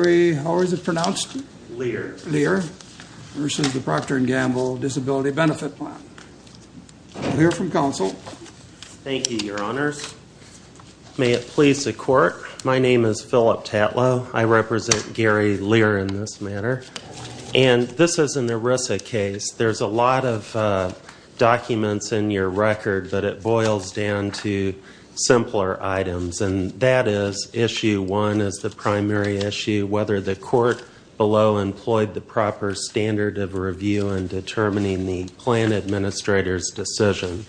Gary, how is it pronounced? Lear. Lear, versus the Procter and Gamble Disability Benefit Plan. We'll hear from counsel. Thank you, your honors. May it please the court, my name is Philip Tatlow. I represent Gary Lear in this matter. And this is an ERISA case. There's a lot of documents in your record, but it boils down to simpler items. And that is, issue one is the primary issue, whether the court below employed the proper standard of review in determining the plan administrator's decision.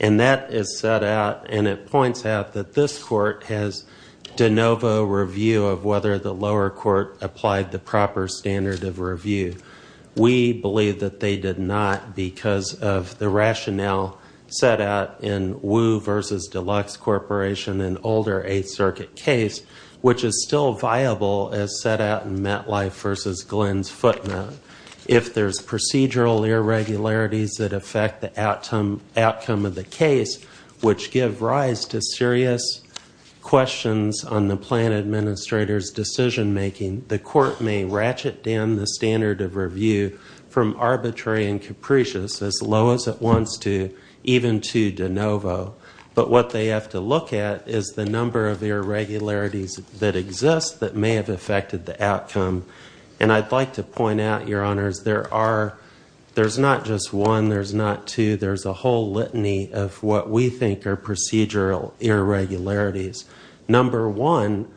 And that is set out, and it points out that this court has de novo review of whether the lower court applied the proper standard of review. We believe that they did not because of the rationale set out in Wu versus Deluxe Corporation and older Eighth Circuit case, which is still viable as set out in MetLife versus Glenn's footnote. If there's procedural irregularities that affect the outcome of the case, which give rise to serious questions on the plan administrator's decision making, the court may ratchet down the standard of review from arbitrary and capricious, as low as it wants to, even to de novo. But what they have to look at is the number of irregularities that exist that may have affected the outcome. And I'd like to point out, your honors, there are, there's not just one, there's not two, there's a whole litany of what we think are procedural irregularities. Number one,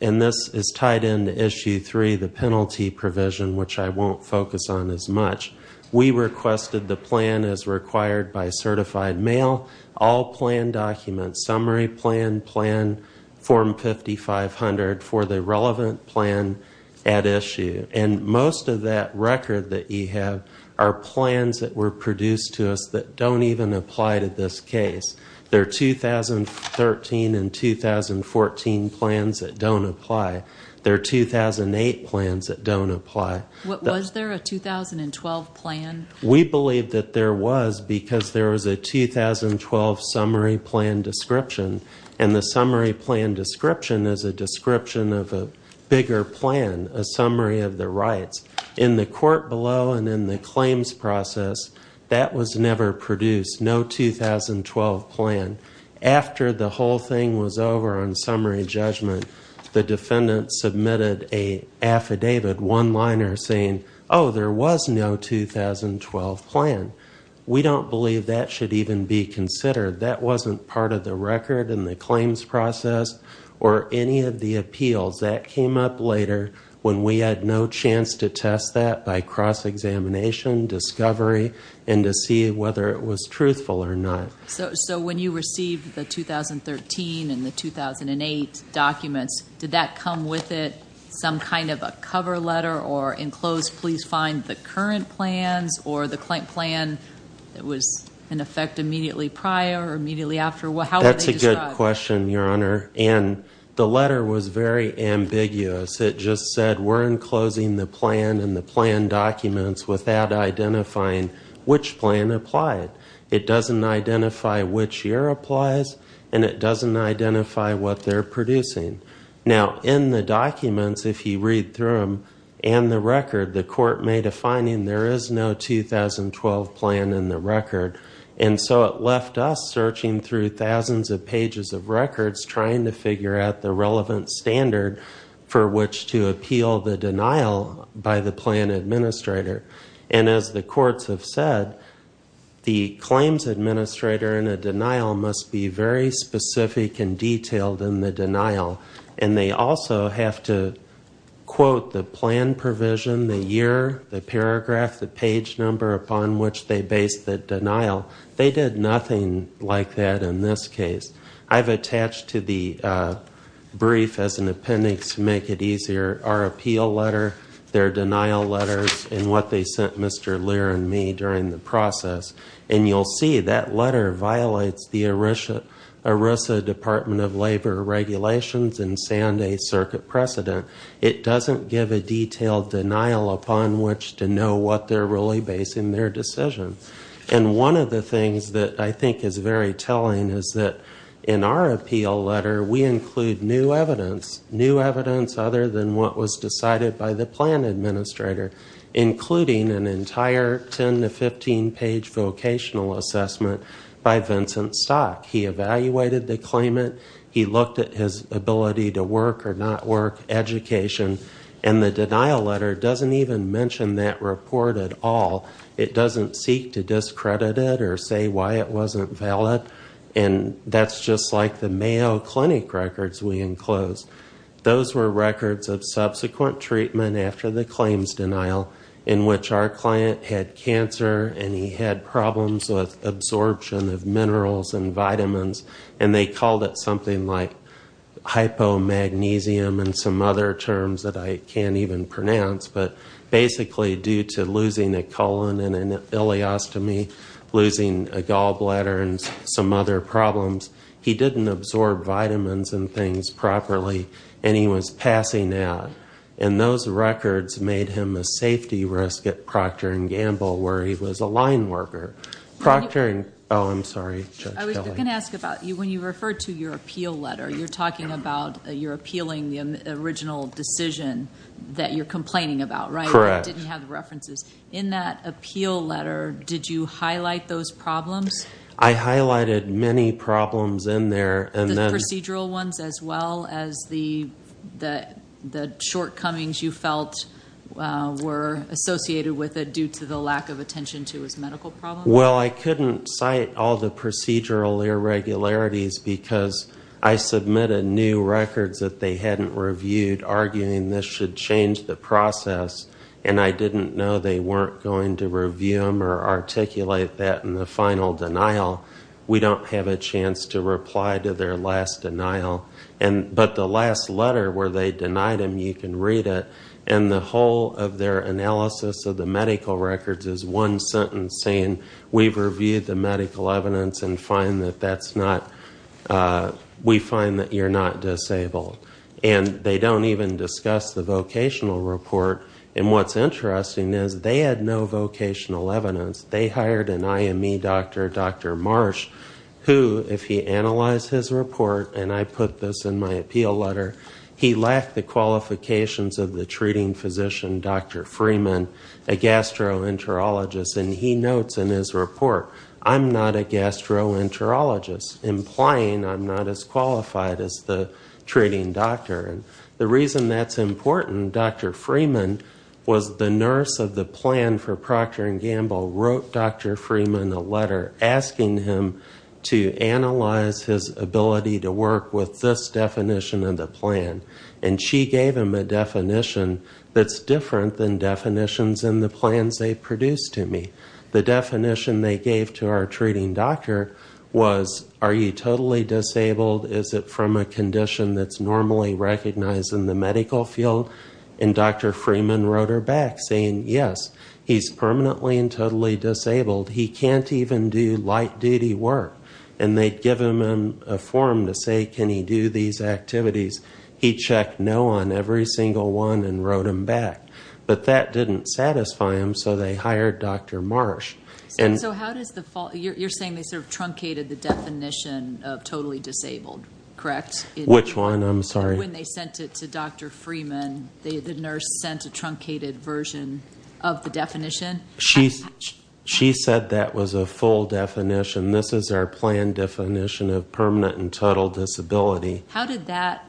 and this is tied into issue three, the penalty provision, which I won't focus on as much, we requested the plan as required by certified mail, all plan documents, summary plan, plan form 5500 for the relevant plan at issue. And most of that record that you have are plans that were produced to us that don't even apply to this case. There are 2013 and 2014 plans that don't apply. There are 2008 plans that don't apply. Was there a 2012 plan? We believe that there was because there was a 2012 summary plan description. And the summary plan description is a description of a bigger plan, a summary of the rights. In the court below and in the claims process, that was never produced, no 2012 plan. After the whole thing was over on summary judgment, the defendant submitted a affidavit, one-liner saying, oh, there was no 2012 plan. We don't believe that should even be considered. That wasn't part of the record in the claims process or any of the appeals. That came up later when we had no chance to test that by cross-examination, discovery, and to see whether it was truthful or not. So when you received the 2013 and the 2008 documents, did that come with it some kind of a cover letter or enclosed, please find the current plans or the plan that was in effect immediately prior or immediately after? How were they described? That's a good question, Your Honor. And the letter was very ambiguous. It just said we're enclosing the plan and the plan documents without identifying which plan applied. It doesn't identify which year applies, and it doesn't identify what they're producing. Now, in the documents, if you read through them and the record, the court made a finding there is no 2012 plan in the record. And so it left us searching through thousands of pages of records trying to figure out the relevant standard for which to appeal the denial by the plan administrator. And as the courts have said, the claims administrator in a denial must be very specific and detailed in the denial. And they also have to quote the plan provision, the year, the paragraph, the page number upon which they based the denial. They did nothing like that in this case. I've attached to the brief as an appendix to make it easier our appeal letter, their denial letters, and what they sent Mr. Lear and me during the process. And you'll see that letter violates the ERISA Department of Labor regulations and Sanday Circuit precedent. It doesn't give a detailed denial upon which to know what they're really basing their decision. And one of the things that I think is very telling is that in our appeal letter, we include new evidence, new evidence other than what was decided by the plan administrator including an entire 10 to 15 page vocational assessment by Vincent Stock. He evaluated the claimant. He looked at his ability to work or not work, education. And the denial letter doesn't even mention that report at all. It doesn't seek to discredit it or say why it wasn't valid. And that's just like the Mayo Clinic records we enclosed. Those were records of subsequent treatment after the claims denial in which our client had cancer and he had problems with absorption of minerals and vitamins, and they called it something like hypomagnesium and some other terms that I can't even pronounce, but basically due to losing a colon and an ileostomy, losing a gallbladder and some other problems, he didn't absorb vitamins and things properly and he was passing out. And those records made him a safety risk at Procter and Gamble where he was a line worker. Procter and, oh, I'm sorry, Judge Kelly. I was going to ask about, when you refer to your appeal letter, you're talking about you're appealing the original decision that you're complaining about, right? Correct. I didn't have the references. In that appeal letter, did you highlight those problems? I highlighted many problems in there. The procedural ones as well as the shortcomings you felt were associated with it due to the lack of attention to his medical problems? Well, I couldn't cite all the procedural irregularities because I submitted new records that they hadn't reviewed arguing this should change the process. And I didn't know they weren't going to review them or articulate that in the final denial. We don't have a chance to reply to their last denial. But the last letter where they denied him, you can read it. And the whole of their analysis of the medical records is one sentence saying, we've reviewed the medical evidence and find that that's not, we find that you're not disabled. And they don't even discuss the vocational report. And what's interesting is they had no vocational evidence. They hired an IME doctor, Dr. Marsh, who, if he analyzed his report, and I put this in my appeal letter, he lacked the qualifications of the treating physician, Dr. Freeman, a gastroenterologist. And he notes in his report, I'm not a gastroenterologist, implying I'm not as qualified as the treating doctor. And the reason that's important, Dr. Freeman was the nurse of the plan for Procter & Gamble, wrote Dr. Freeman a letter asking him to analyze his ability to work with this definition of the plan. And she gave him a definition that's different than definitions in the plans they produced to me. The definition they gave to our treating doctor was, are you totally disabled? Is it from a condition that's normally recognized in the medical field? And Dr. Freeman wrote her back saying, yes, he's permanently and totally disabled. He can't even do light duty work. And they'd give him a form to say, can he do these activities? He checked no on every single one and wrote him back. But that didn't satisfy him, so they hired Dr. Marsh. And so how does the, you're saying they sort of truncated the definition of totally disabled, correct? Which one? I'm sorry. When they sent it to Dr. Freeman, the nurse sent a truncated version of the definition. She said that was a full definition. This is our plan definition of permanent and total disability. How did that,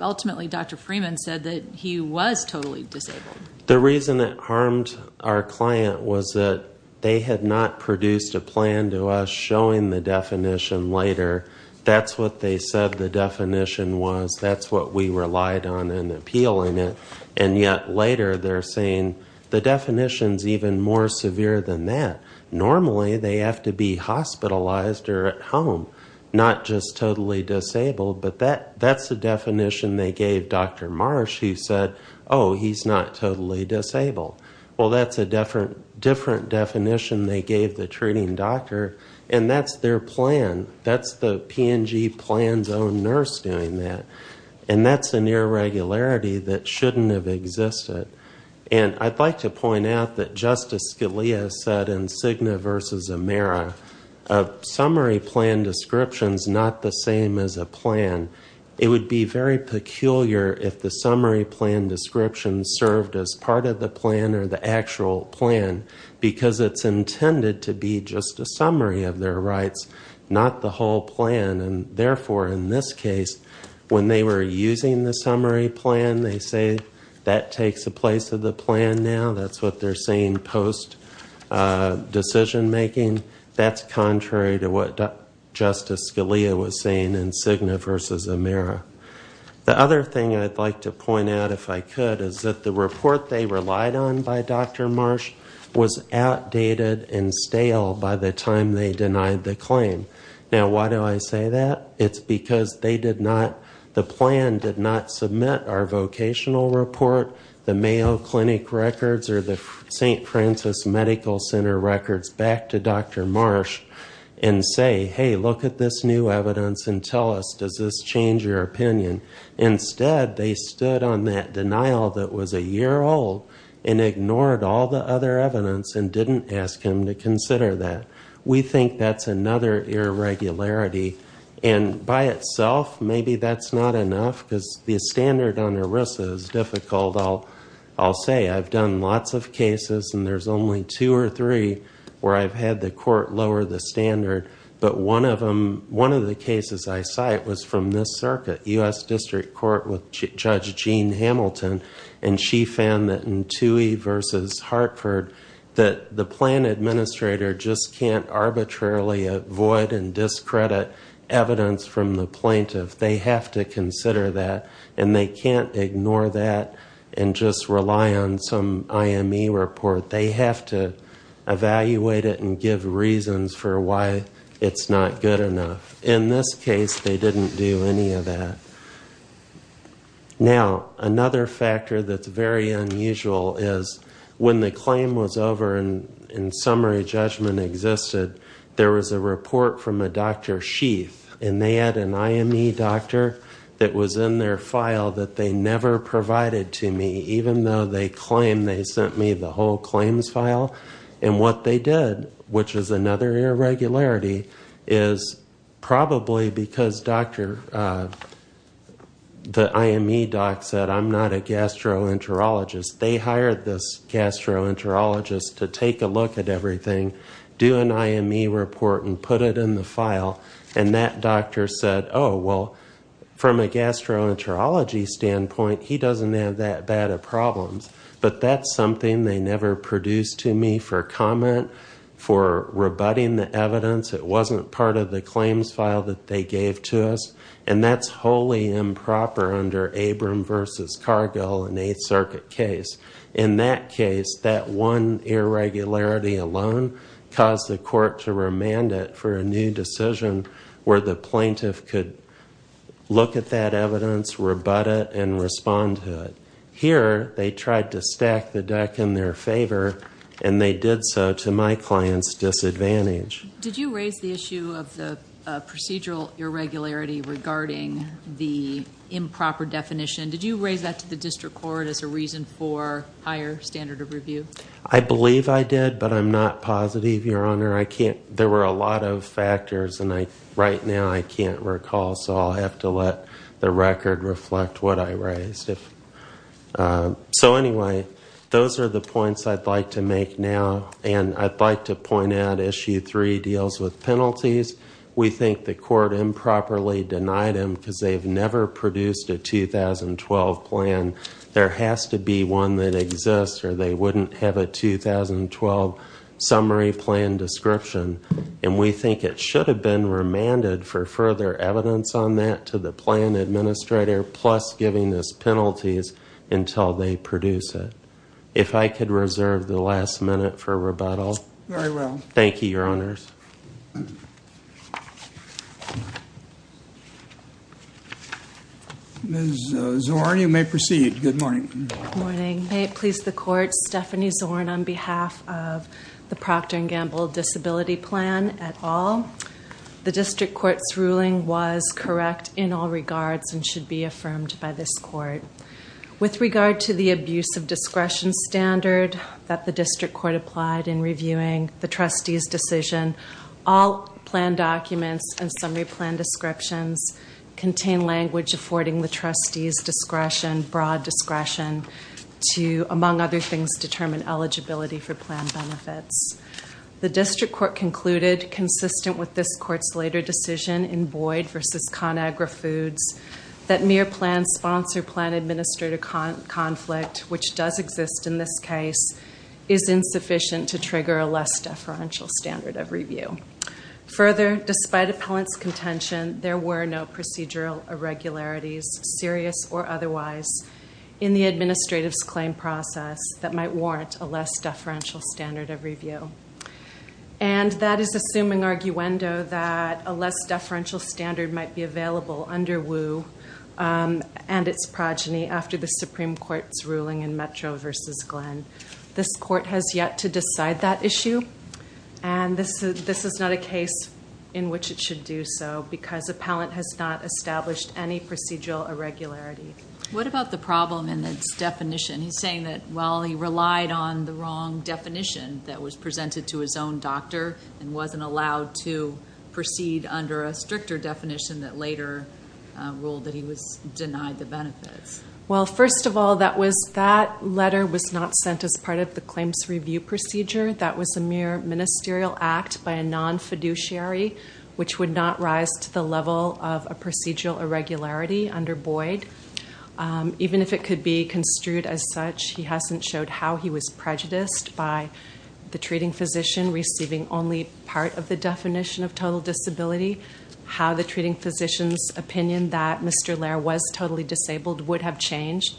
ultimately Dr. Freeman said that he was totally disabled. The reason it harmed our client was that they had not produced a plan to us showing the definition later. That's what they said the definition was. That's what we relied on in appealing it. And yet later they're saying the definition's even more severe than that. Normally they have to be hospitalized or at home, not just totally disabled. But that's the definition they gave Dr. Marsh who said, oh, he's not totally disabled. Well, that's a different definition they gave the treating doctor. And that's their plan. That's the P&G plan's own nurse doing that. And that's an irregularity that shouldn't have existed. And I'd like to point out that Justice Scalia said in Cigna versus Amera, a summary plan description's not the same as a plan. It would be very peculiar if the summary plan description served as part of the plan or the actual plan because it's intended to be just a summary of their rights, not the whole plan. And therefore, in this case, when they were using the summary plan, they say that takes the place of the plan now. That's what they're saying post decision making. That's contrary to what Justice Scalia was saying in Cigna versus Amera. The other thing I'd like to point out if I could is that the report they relied on by Dr. Marsh was outdated and stale by the time they denied the claim. Now, why do I say that? It's because they did not, the plan did not submit our vocational report, the Mayo Clinic records or the St. Francis Medical Center records back to Dr. Marsh and say, hey, look at this new evidence and tell us, does this change your opinion? Instead, they stood on that denial that was a year old and ignored all the other evidence and didn't ask him to consider that. We think that's another irregularity. And by itself, maybe that's not enough because the standard on ERISA is difficult, I'll say. I've done lots of cases and there's only two or three where I've had the court lower the standard. But one of the cases I cite was from this circuit, U.S. District Court with Judge Jean Hamilton and she found that in Toohey versus Hartford that the plan administrator just can't arbitrarily avoid and discredit evidence from the plaintiff. They have to consider that and they can't ignore that and just rely on some IME report. They have to evaluate it and give reasons for why it's not good enough. In this case, they didn't do any of that. Now, another factor that's very unusual is when the claim was over and summary judgment existed, there was a report from a Dr. Sheaf and they had an IME doctor that was in their file that they never provided to me, even though they claim they sent me the whole claims file. And what they did, which is another irregularity, is probably because Dr. The IME doc said, I'm not a gastroenterologist. They hired this gastroenterologist to take a look at everything, do an IME report and put it in the file. And that doctor said, oh, well, from a gastroenterology standpoint, he doesn't have that bad of problems. But that's something they never produced to me for comment, for rebutting the evidence. It wasn't part of the claims file that they gave to us. And that's wholly improper under Abram versus Cargill in the 8th Circuit case. In that case, that one irregularity alone caused the court to remand it for a new decision where the plaintiff could look at that evidence, rebut it and respond to it. Here, they tried to stack the deck in their favor and they did so to my client's disadvantage. Did you raise the issue of the procedural irregularity regarding the improper definition? Did you raise that to the district court as a reason for higher standard of review? I believe I did, but I'm not positive, Your Honor. I can't, there were a lot of factors and I, right now, I can't recall. So I'll have to let the record reflect what I raised. If, so anyway, those are the points I'd like to make now. And I'd like to point out issue 3 deals with penalties. We think the court improperly denied them because they've never produced a 2012 plan. There has to be one that exists or they wouldn't have a 2012 summary plan description. And we think it should have been remanded for further evidence on that to the plan administrator plus giving us penalties until they produce it. If I could reserve the last minute for rebuttal. Very well. Thank you, Your Honors. Ms. Zorn, you may proceed. Good morning. Good morning. May it please the court, Stephanie Zorn on behalf of the Procter and Gamble Disability Plan et al. The district court's ruling was correct in all regards and should be affirmed by this court. With regard to the abuse of discretion standard that the district court applied in reviewing the trustee's decision, all plan documents and summary plan descriptions contain language affording the trustee's discretion, broad discretion to, among other things, determine eligibility for plan benefits. The district court concluded, consistent with this court's later decision in Boyd versus ConAgra Foods, that mere plan sponsor plan administrator conflict which does exist in this case is insufficient to trigger a less deferential standard of review. Further, despite appellant's contention, there were no procedural irregularities, serious or otherwise, in the administrative's claim process that might warrant a less deferential standard of review. And that is assuming arguendo that a less deferential standard might be available under WU and its progeny after the Supreme Court's ruling in Metro versus Glenn. This court has yet to decide that issue and this is not a case in which it should do so because appellant has not established any procedural irregularity. What about the problem in its definition? He's saying that, well, he relied on the wrong definition that was presented to his own doctor and wasn't allowed to proceed under a stricter definition that later ruled that he was denied the benefits. Well, first of all, that was, that letter was not sent as part of the claims review procedure. That was a mere ministerial act by a non-fiduciary which would not rise to the level of a procedural irregularity under Boyd. Even if it could be construed as such, he hasn't showed how he was prejudiced by the treating physician receiving only part of the definition of total disability, how the treating physician's opinion that Mr. Lair was totally disabled would have changed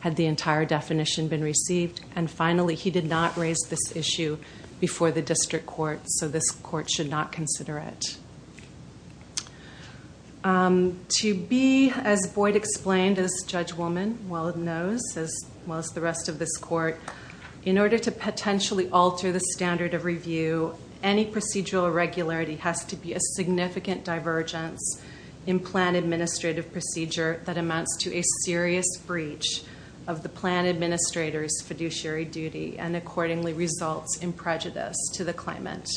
had the entire definition been received, and finally, he did not raise this issue before the district court. So this court should not consider it. To be, as Boyd explained, as judge woman, well, it knows, as well as the rest of this court, in order to potentially alter the standard of review, any procedural irregularity has to be a significant divergence in plan administrative procedure that amounts to a serious breach of the plan administrator's fiduciary duty and accordingly results in prejudice to the claimant.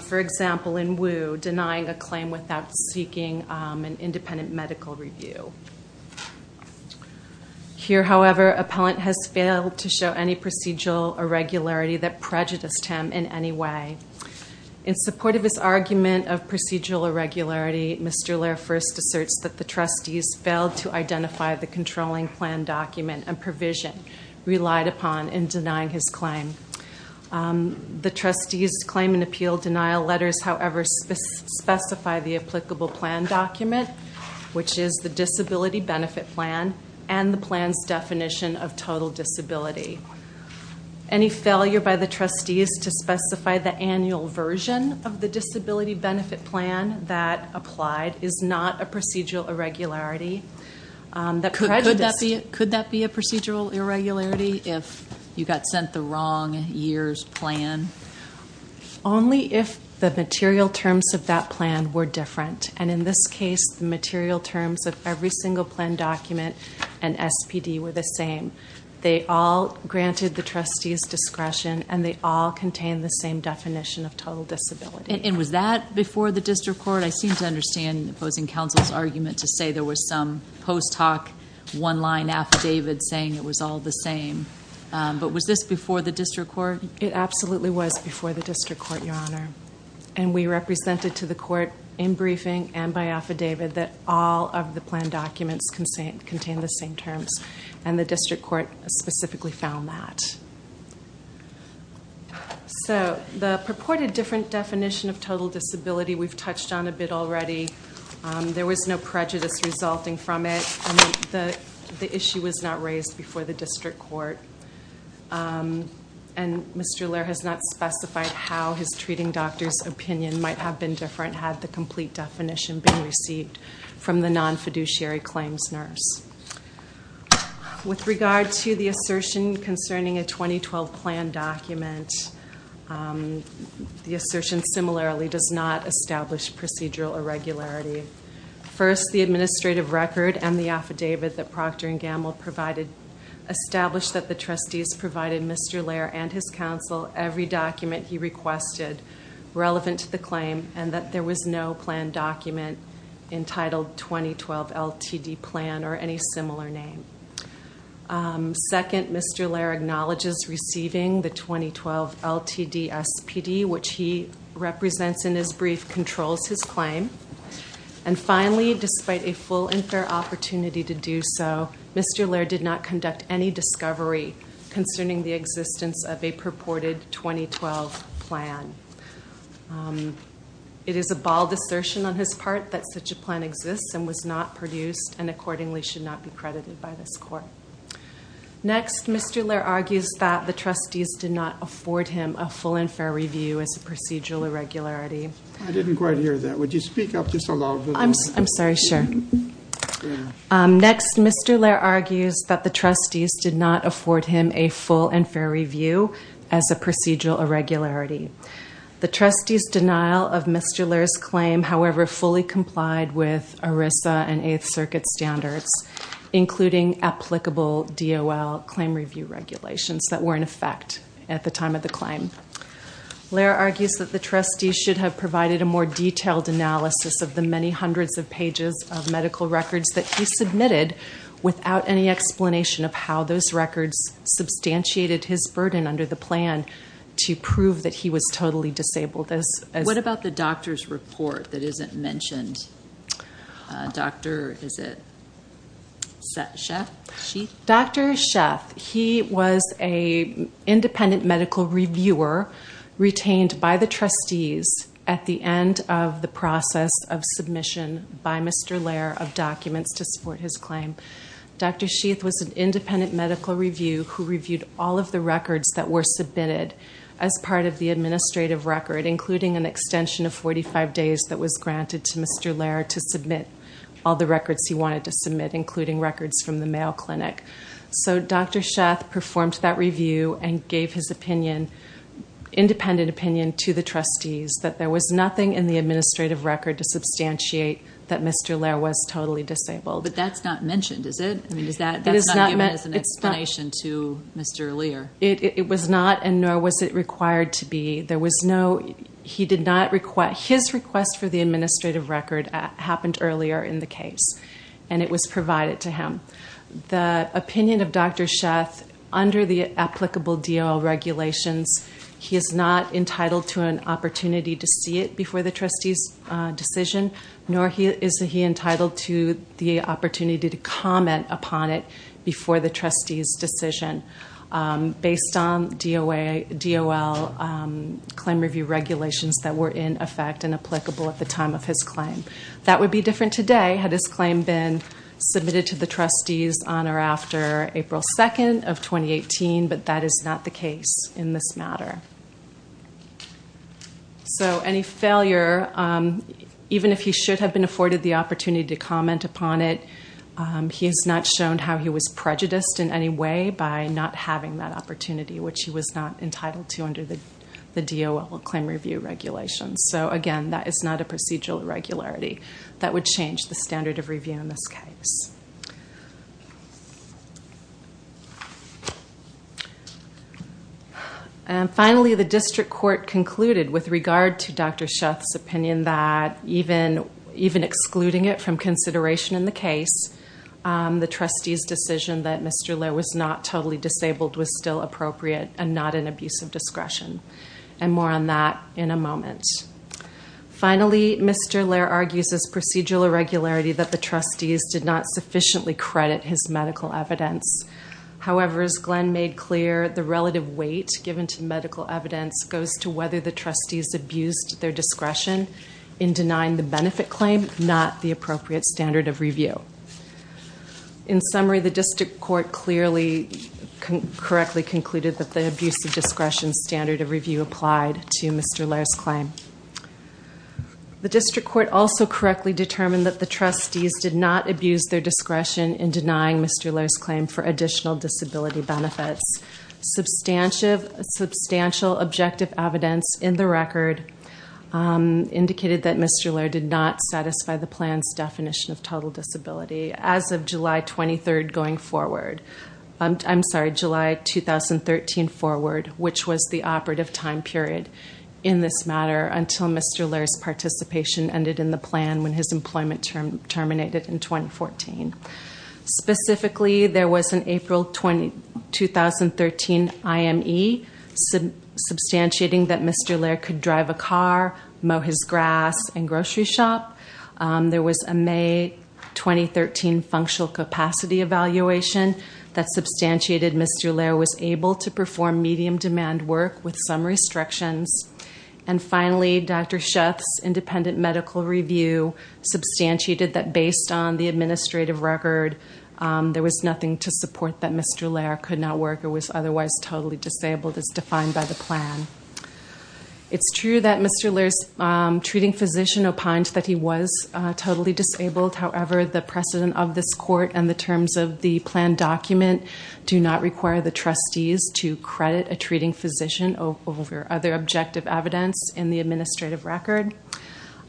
For example, in Wu, denying a claim without seeking an independent medical review. Here, however, appellant has failed to show any procedural irregularity that prejudiced him in any way. In support of his argument of procedural irregularity, Mr. Lair first asserts that the trustees failed to identify the controlling plan document and provision relied upon in denying his claim. The trustees' claim and appeal denial letters, however, specify the applicable plan document, which is the disability benefit plan, and the plan's definition of total disability. Any failure by the trustees to specify the annual version of the disability benefit plan that applied is not a procedural irregularity that prejudiced. Could that be a procedural irregularity if you got sent the wrong year's plan? Only if the material terms of that plan were different, and in this case, the material terms of every single plan document and SPD were the same. They all granted the trustees' discretion, and they all contain the same definition of total disability. And was that before the district court? I seem to understand opposing counsel's argument to say there was some post-talk one-line affidavit saying it was all the same. But was this before the district court? It absolutely was before the district court, Your Honor, and we represented to the court in briefing and by affidavit that all of the plan documents contain the same terms, and the district court specifically found that. So the purported different definition of total disability, we've touched on a bit already. There was no prejudice resulting from it. The issue was not raised before the district court, and Mr. Laird has not specified how his treating doctor's opinion might have been different had the complete definition been received from the non-fiduciary claims nurse. With regard to the assertion concerning a 2012 plan document, the assertion similarly does not establish procedural irregularity. First, the administrative record and the affidavit that Procter & Gamble provided established that the trustees provided Mr. Laird and his counsel every document he requested relevant to the claim and that there was no plan document entitled 2012 LTD plan or any similar name. Second, Mr. Laird acknowledges receiving the 2012 LTD SPD, which he represents in his brief, controls his claim. And finally, despite a full and fair opportunity to do so, Mr. Laird did not conduct any discovery concerning the existence of a purported 2012 plan. It is a bald assertion on his part that such a plan exists and was not produced and accordingly should not be credited by this court. Next, Mr. Laird argues that the trustees did not afford him a full and fair review as a procedural irregularity. I didn't quite hear that. Would you speak up just a little bit? I'm sorry. Sure. Next, Mr. Laird argues that the trustees did not afford him a full and fair review as a procedural irregularity. The trustees' denial of Mr. Laird's claim, however, fully complied with ERISA and Eighth Circuit standards, including applicable DOL claim review regulations that were in effect at the time of the claim. Laird argues that the trustees should have provided a more detailed analysis of the many hundreds of pages of medical records that he submitted without any explanation of how those records substantiated his burden under the plan to prove that he was totally disabled. What about the doctor's report that isn't mentioned? Doctor, is it Sheath? Dr. Sheath, he was an independent medical reviewer retained by the trustees at the end of the process of submission by Mr. Laird of documents to support his claim. Dr. Sheath was an independent medical review who reviewed all of the records that were submitted as part of the administrative record, including an extension of 45 days that was granted to Mr. Laird to submit all the records he wanted to submit, including records from the Mayo Clinic. So, Dr. Sheath performed that review and gave his opinion, independent opinion to the trustees that there was nothing in the administrative record to substantiate that Mr. Laird was totally disabled. But that's not mentioned, is it? I mean, is that not given as an explanation to Mr. Laird? It was not, and nor was it required to be. There was no, he did not, his request for the administrative record happened earlier in the case, and it was provided to him. The opinion of Dr. Sheath, under the applicable DOL regulations, he is not entitled to an opportunity to see it before the trustees' decision, nor is he entitled to an opportunity to see it before the trustees' decision based on DOL claim review regulations that were in effect and applicable at the time of his claim. That would be different today, had his claim been submitted to the trustees on or after April 2nd of 2018, but that is not the case in this matter. So, any failure, even if he should have been afforded the opportunity to comment upon it, he is not shown how he was prejudiced in any way by not having that opportunity, which he was not entitled to under the DOL claim review regulations. So, again, that is not a procedural irregularity. That would change the standard of review in this case. And finally, the district court concluded with regard to Dr. Sheath's opinion that even excluding it from consideration in the case, the trustees' decision that Mr. Lehr was not totally disabled was still appropriate and not an abuse of discretion. And more on that in a moment. Finally, Mr. Lehr argues this procedural irregularity that the trustees did not sufficiently credit his medical evidence. However, as Glenn made clear, the relative weight given to medical evidence goes to whether the trustees abused their discretion in denying the benefit claim, not the appropriate standard of review. In summary, the district court clearly, correctly concluded that the abuse of discretion standard of review applied to Mr. Lehr's claim. The district court also correctly determined that the trustees did not abuse their discretion in denying Mr. Lehr's claim for additional disability benefits. Substantial objective evidence in the record indicated that Mr. Lehr did not satisfy the plan's definition of total disability as of July 23rd going forward. I'm sorry, July 2013 forward, which was the operative time period in this matter until Mr. Lehr's participation ended in the plan when his employment term terminated in 2014. Specifically, there was an April 2013 IME substantiating that Mr. Lehr could drive a car, mow his grass, and grocery shop. There was a May 2013 functional capacity evaluation that substantiated Mr. Lehr was able to perform medium demand work with some restrictions. And finally, Dr. Schaaf's independent medical review substantiated that based on the administrative record, there was nothing to support that Mr. Lehr could not work or was otherwise totally disabled as defined by the plan. It's true that Mr. Lehr's treating physician opined that he was totally disabled. However, the precedent of this court and the terms of the plan document do not require the trustees to credit a treating physician over other objective evidence in the administrative record.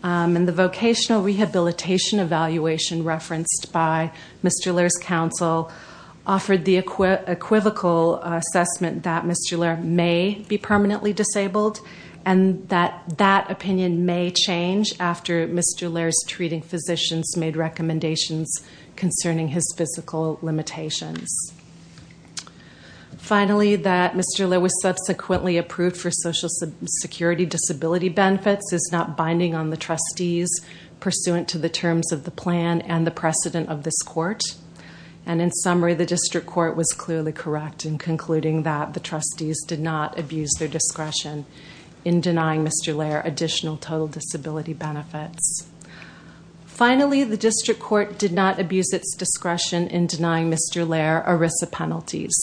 And the vocational rehabilitation evaluation referenced by Mr. Lehr's counsel offered the equivocal assessment that Mr. Lehr may be permanently disabled. And that that opinion may change after Mr. Lehr's treating physicians made recommendations concerning his physical limitations. Finally, that Mr. Lehr was subsequently approved for social security disability benefits is not binding on the trustees pursuant to the terms of the plan and the precedent of this court. And in summary, the district court was clearly correct in concluding that the trustees did not abuse their discretion in denying Mr. Lehr additional total disability benefits. Finally, the district court did not abuse its discretion in denying Mr. Lehr ERISA penalties.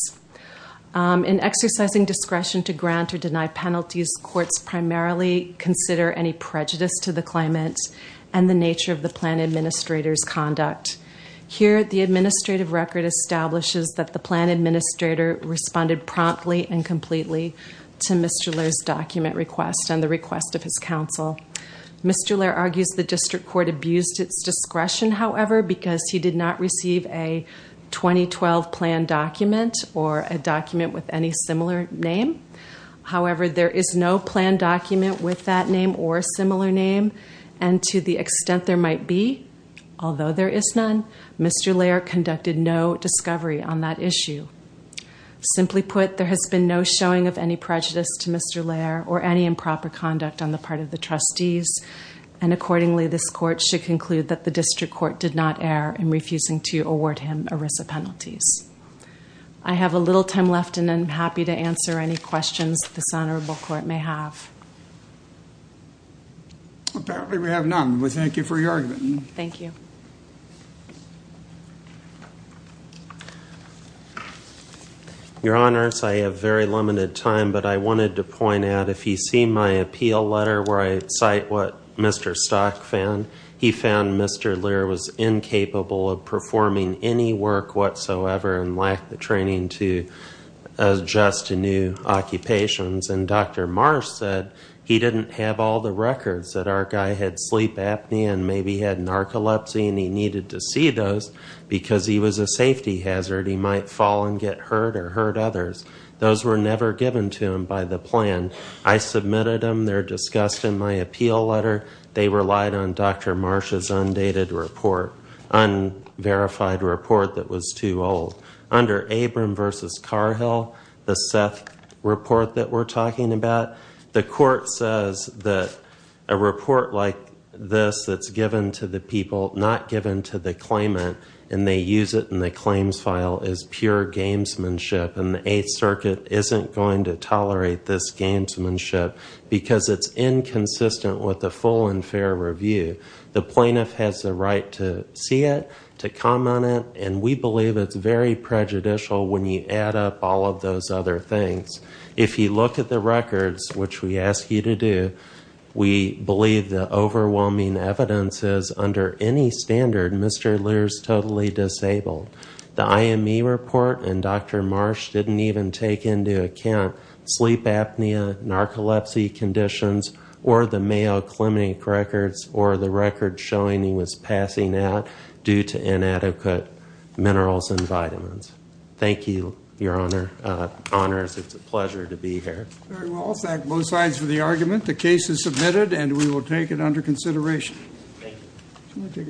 In exercising discretion to grant or deny penalties, courts primarily consider any prejudice to the climate and the nature of the plan administrator's conduct. Here, the administrative record establishes that the plan administrator responded promptly and completely to Mr. Lehr's document request and the request of his counsel. Mr. Lehr argues the district court abused its discretion, however, because he did not receive a 2012 plan document or a document with any similar name. However, there is no plan document with that name or a similar name. And to the extent there might be, although there is none, Mr. Lehr conducted no discovery on that issue. Simply put, there has been no showing of any prejudice to Mr. Lehr or any improper conduct on the part of the trustees. And accordingly, this court should conclude that the district court did not err in refusing to award him ERISA penalties. I have a little time left, and I'm happy to answer any questions this honorable court may have. Apparently, we have none. We thank you for your argument. Thank you. Your honors, I have very limited time, but I wanted to point out, if you see my appeal letter where I cite what Mr. Stock found, he found Mr. Lehr was incapable of performing any work whatsoever and lacked the training to adjust to new occupations. And Dr. Marsh said he didn't have all the records that our guy had sleep apnea and maybe had narcolepsy, and he needed to see those because he was a safety hazard. He might fall and get hurt or hurt others. Those were never given to him by the plan. I submitted them. They're discussed in my appeal letter. They relied on Dr. Marsh's undated report, unverified report that was too old. Under Abram versus Carhill, the Seth report that we're talking about, the court says that a report like this that's given to the people, not given to the claimant, and they use it in the claims file, is pure gamesmanship, and the Eighth Circuit isn't going to tolerate this gamesmanship because it's inconsistent with the full and fair review. The plaintiff has the right to see it, to comment on it, and we believe it's very prejudicial when you add up all of those other things. If you look at the records, which we ask you to do, we believe the overwhelming evidence is under any standard, Mr. Lehr is totally disabled. The IME report and Dr. Marsh didn't even take into account sleep apnea, narcolepsy conditions, or the Mayo Clinic records, or the records showing he was passing out due to inadequate minerals and vitamins. Thank you, Your Honor. Honors, it's a pleasure to be here. Very well. I'll thank both sides for the argument. The case is submitted, and we will take it under consideration. Thank you. Can I take a break?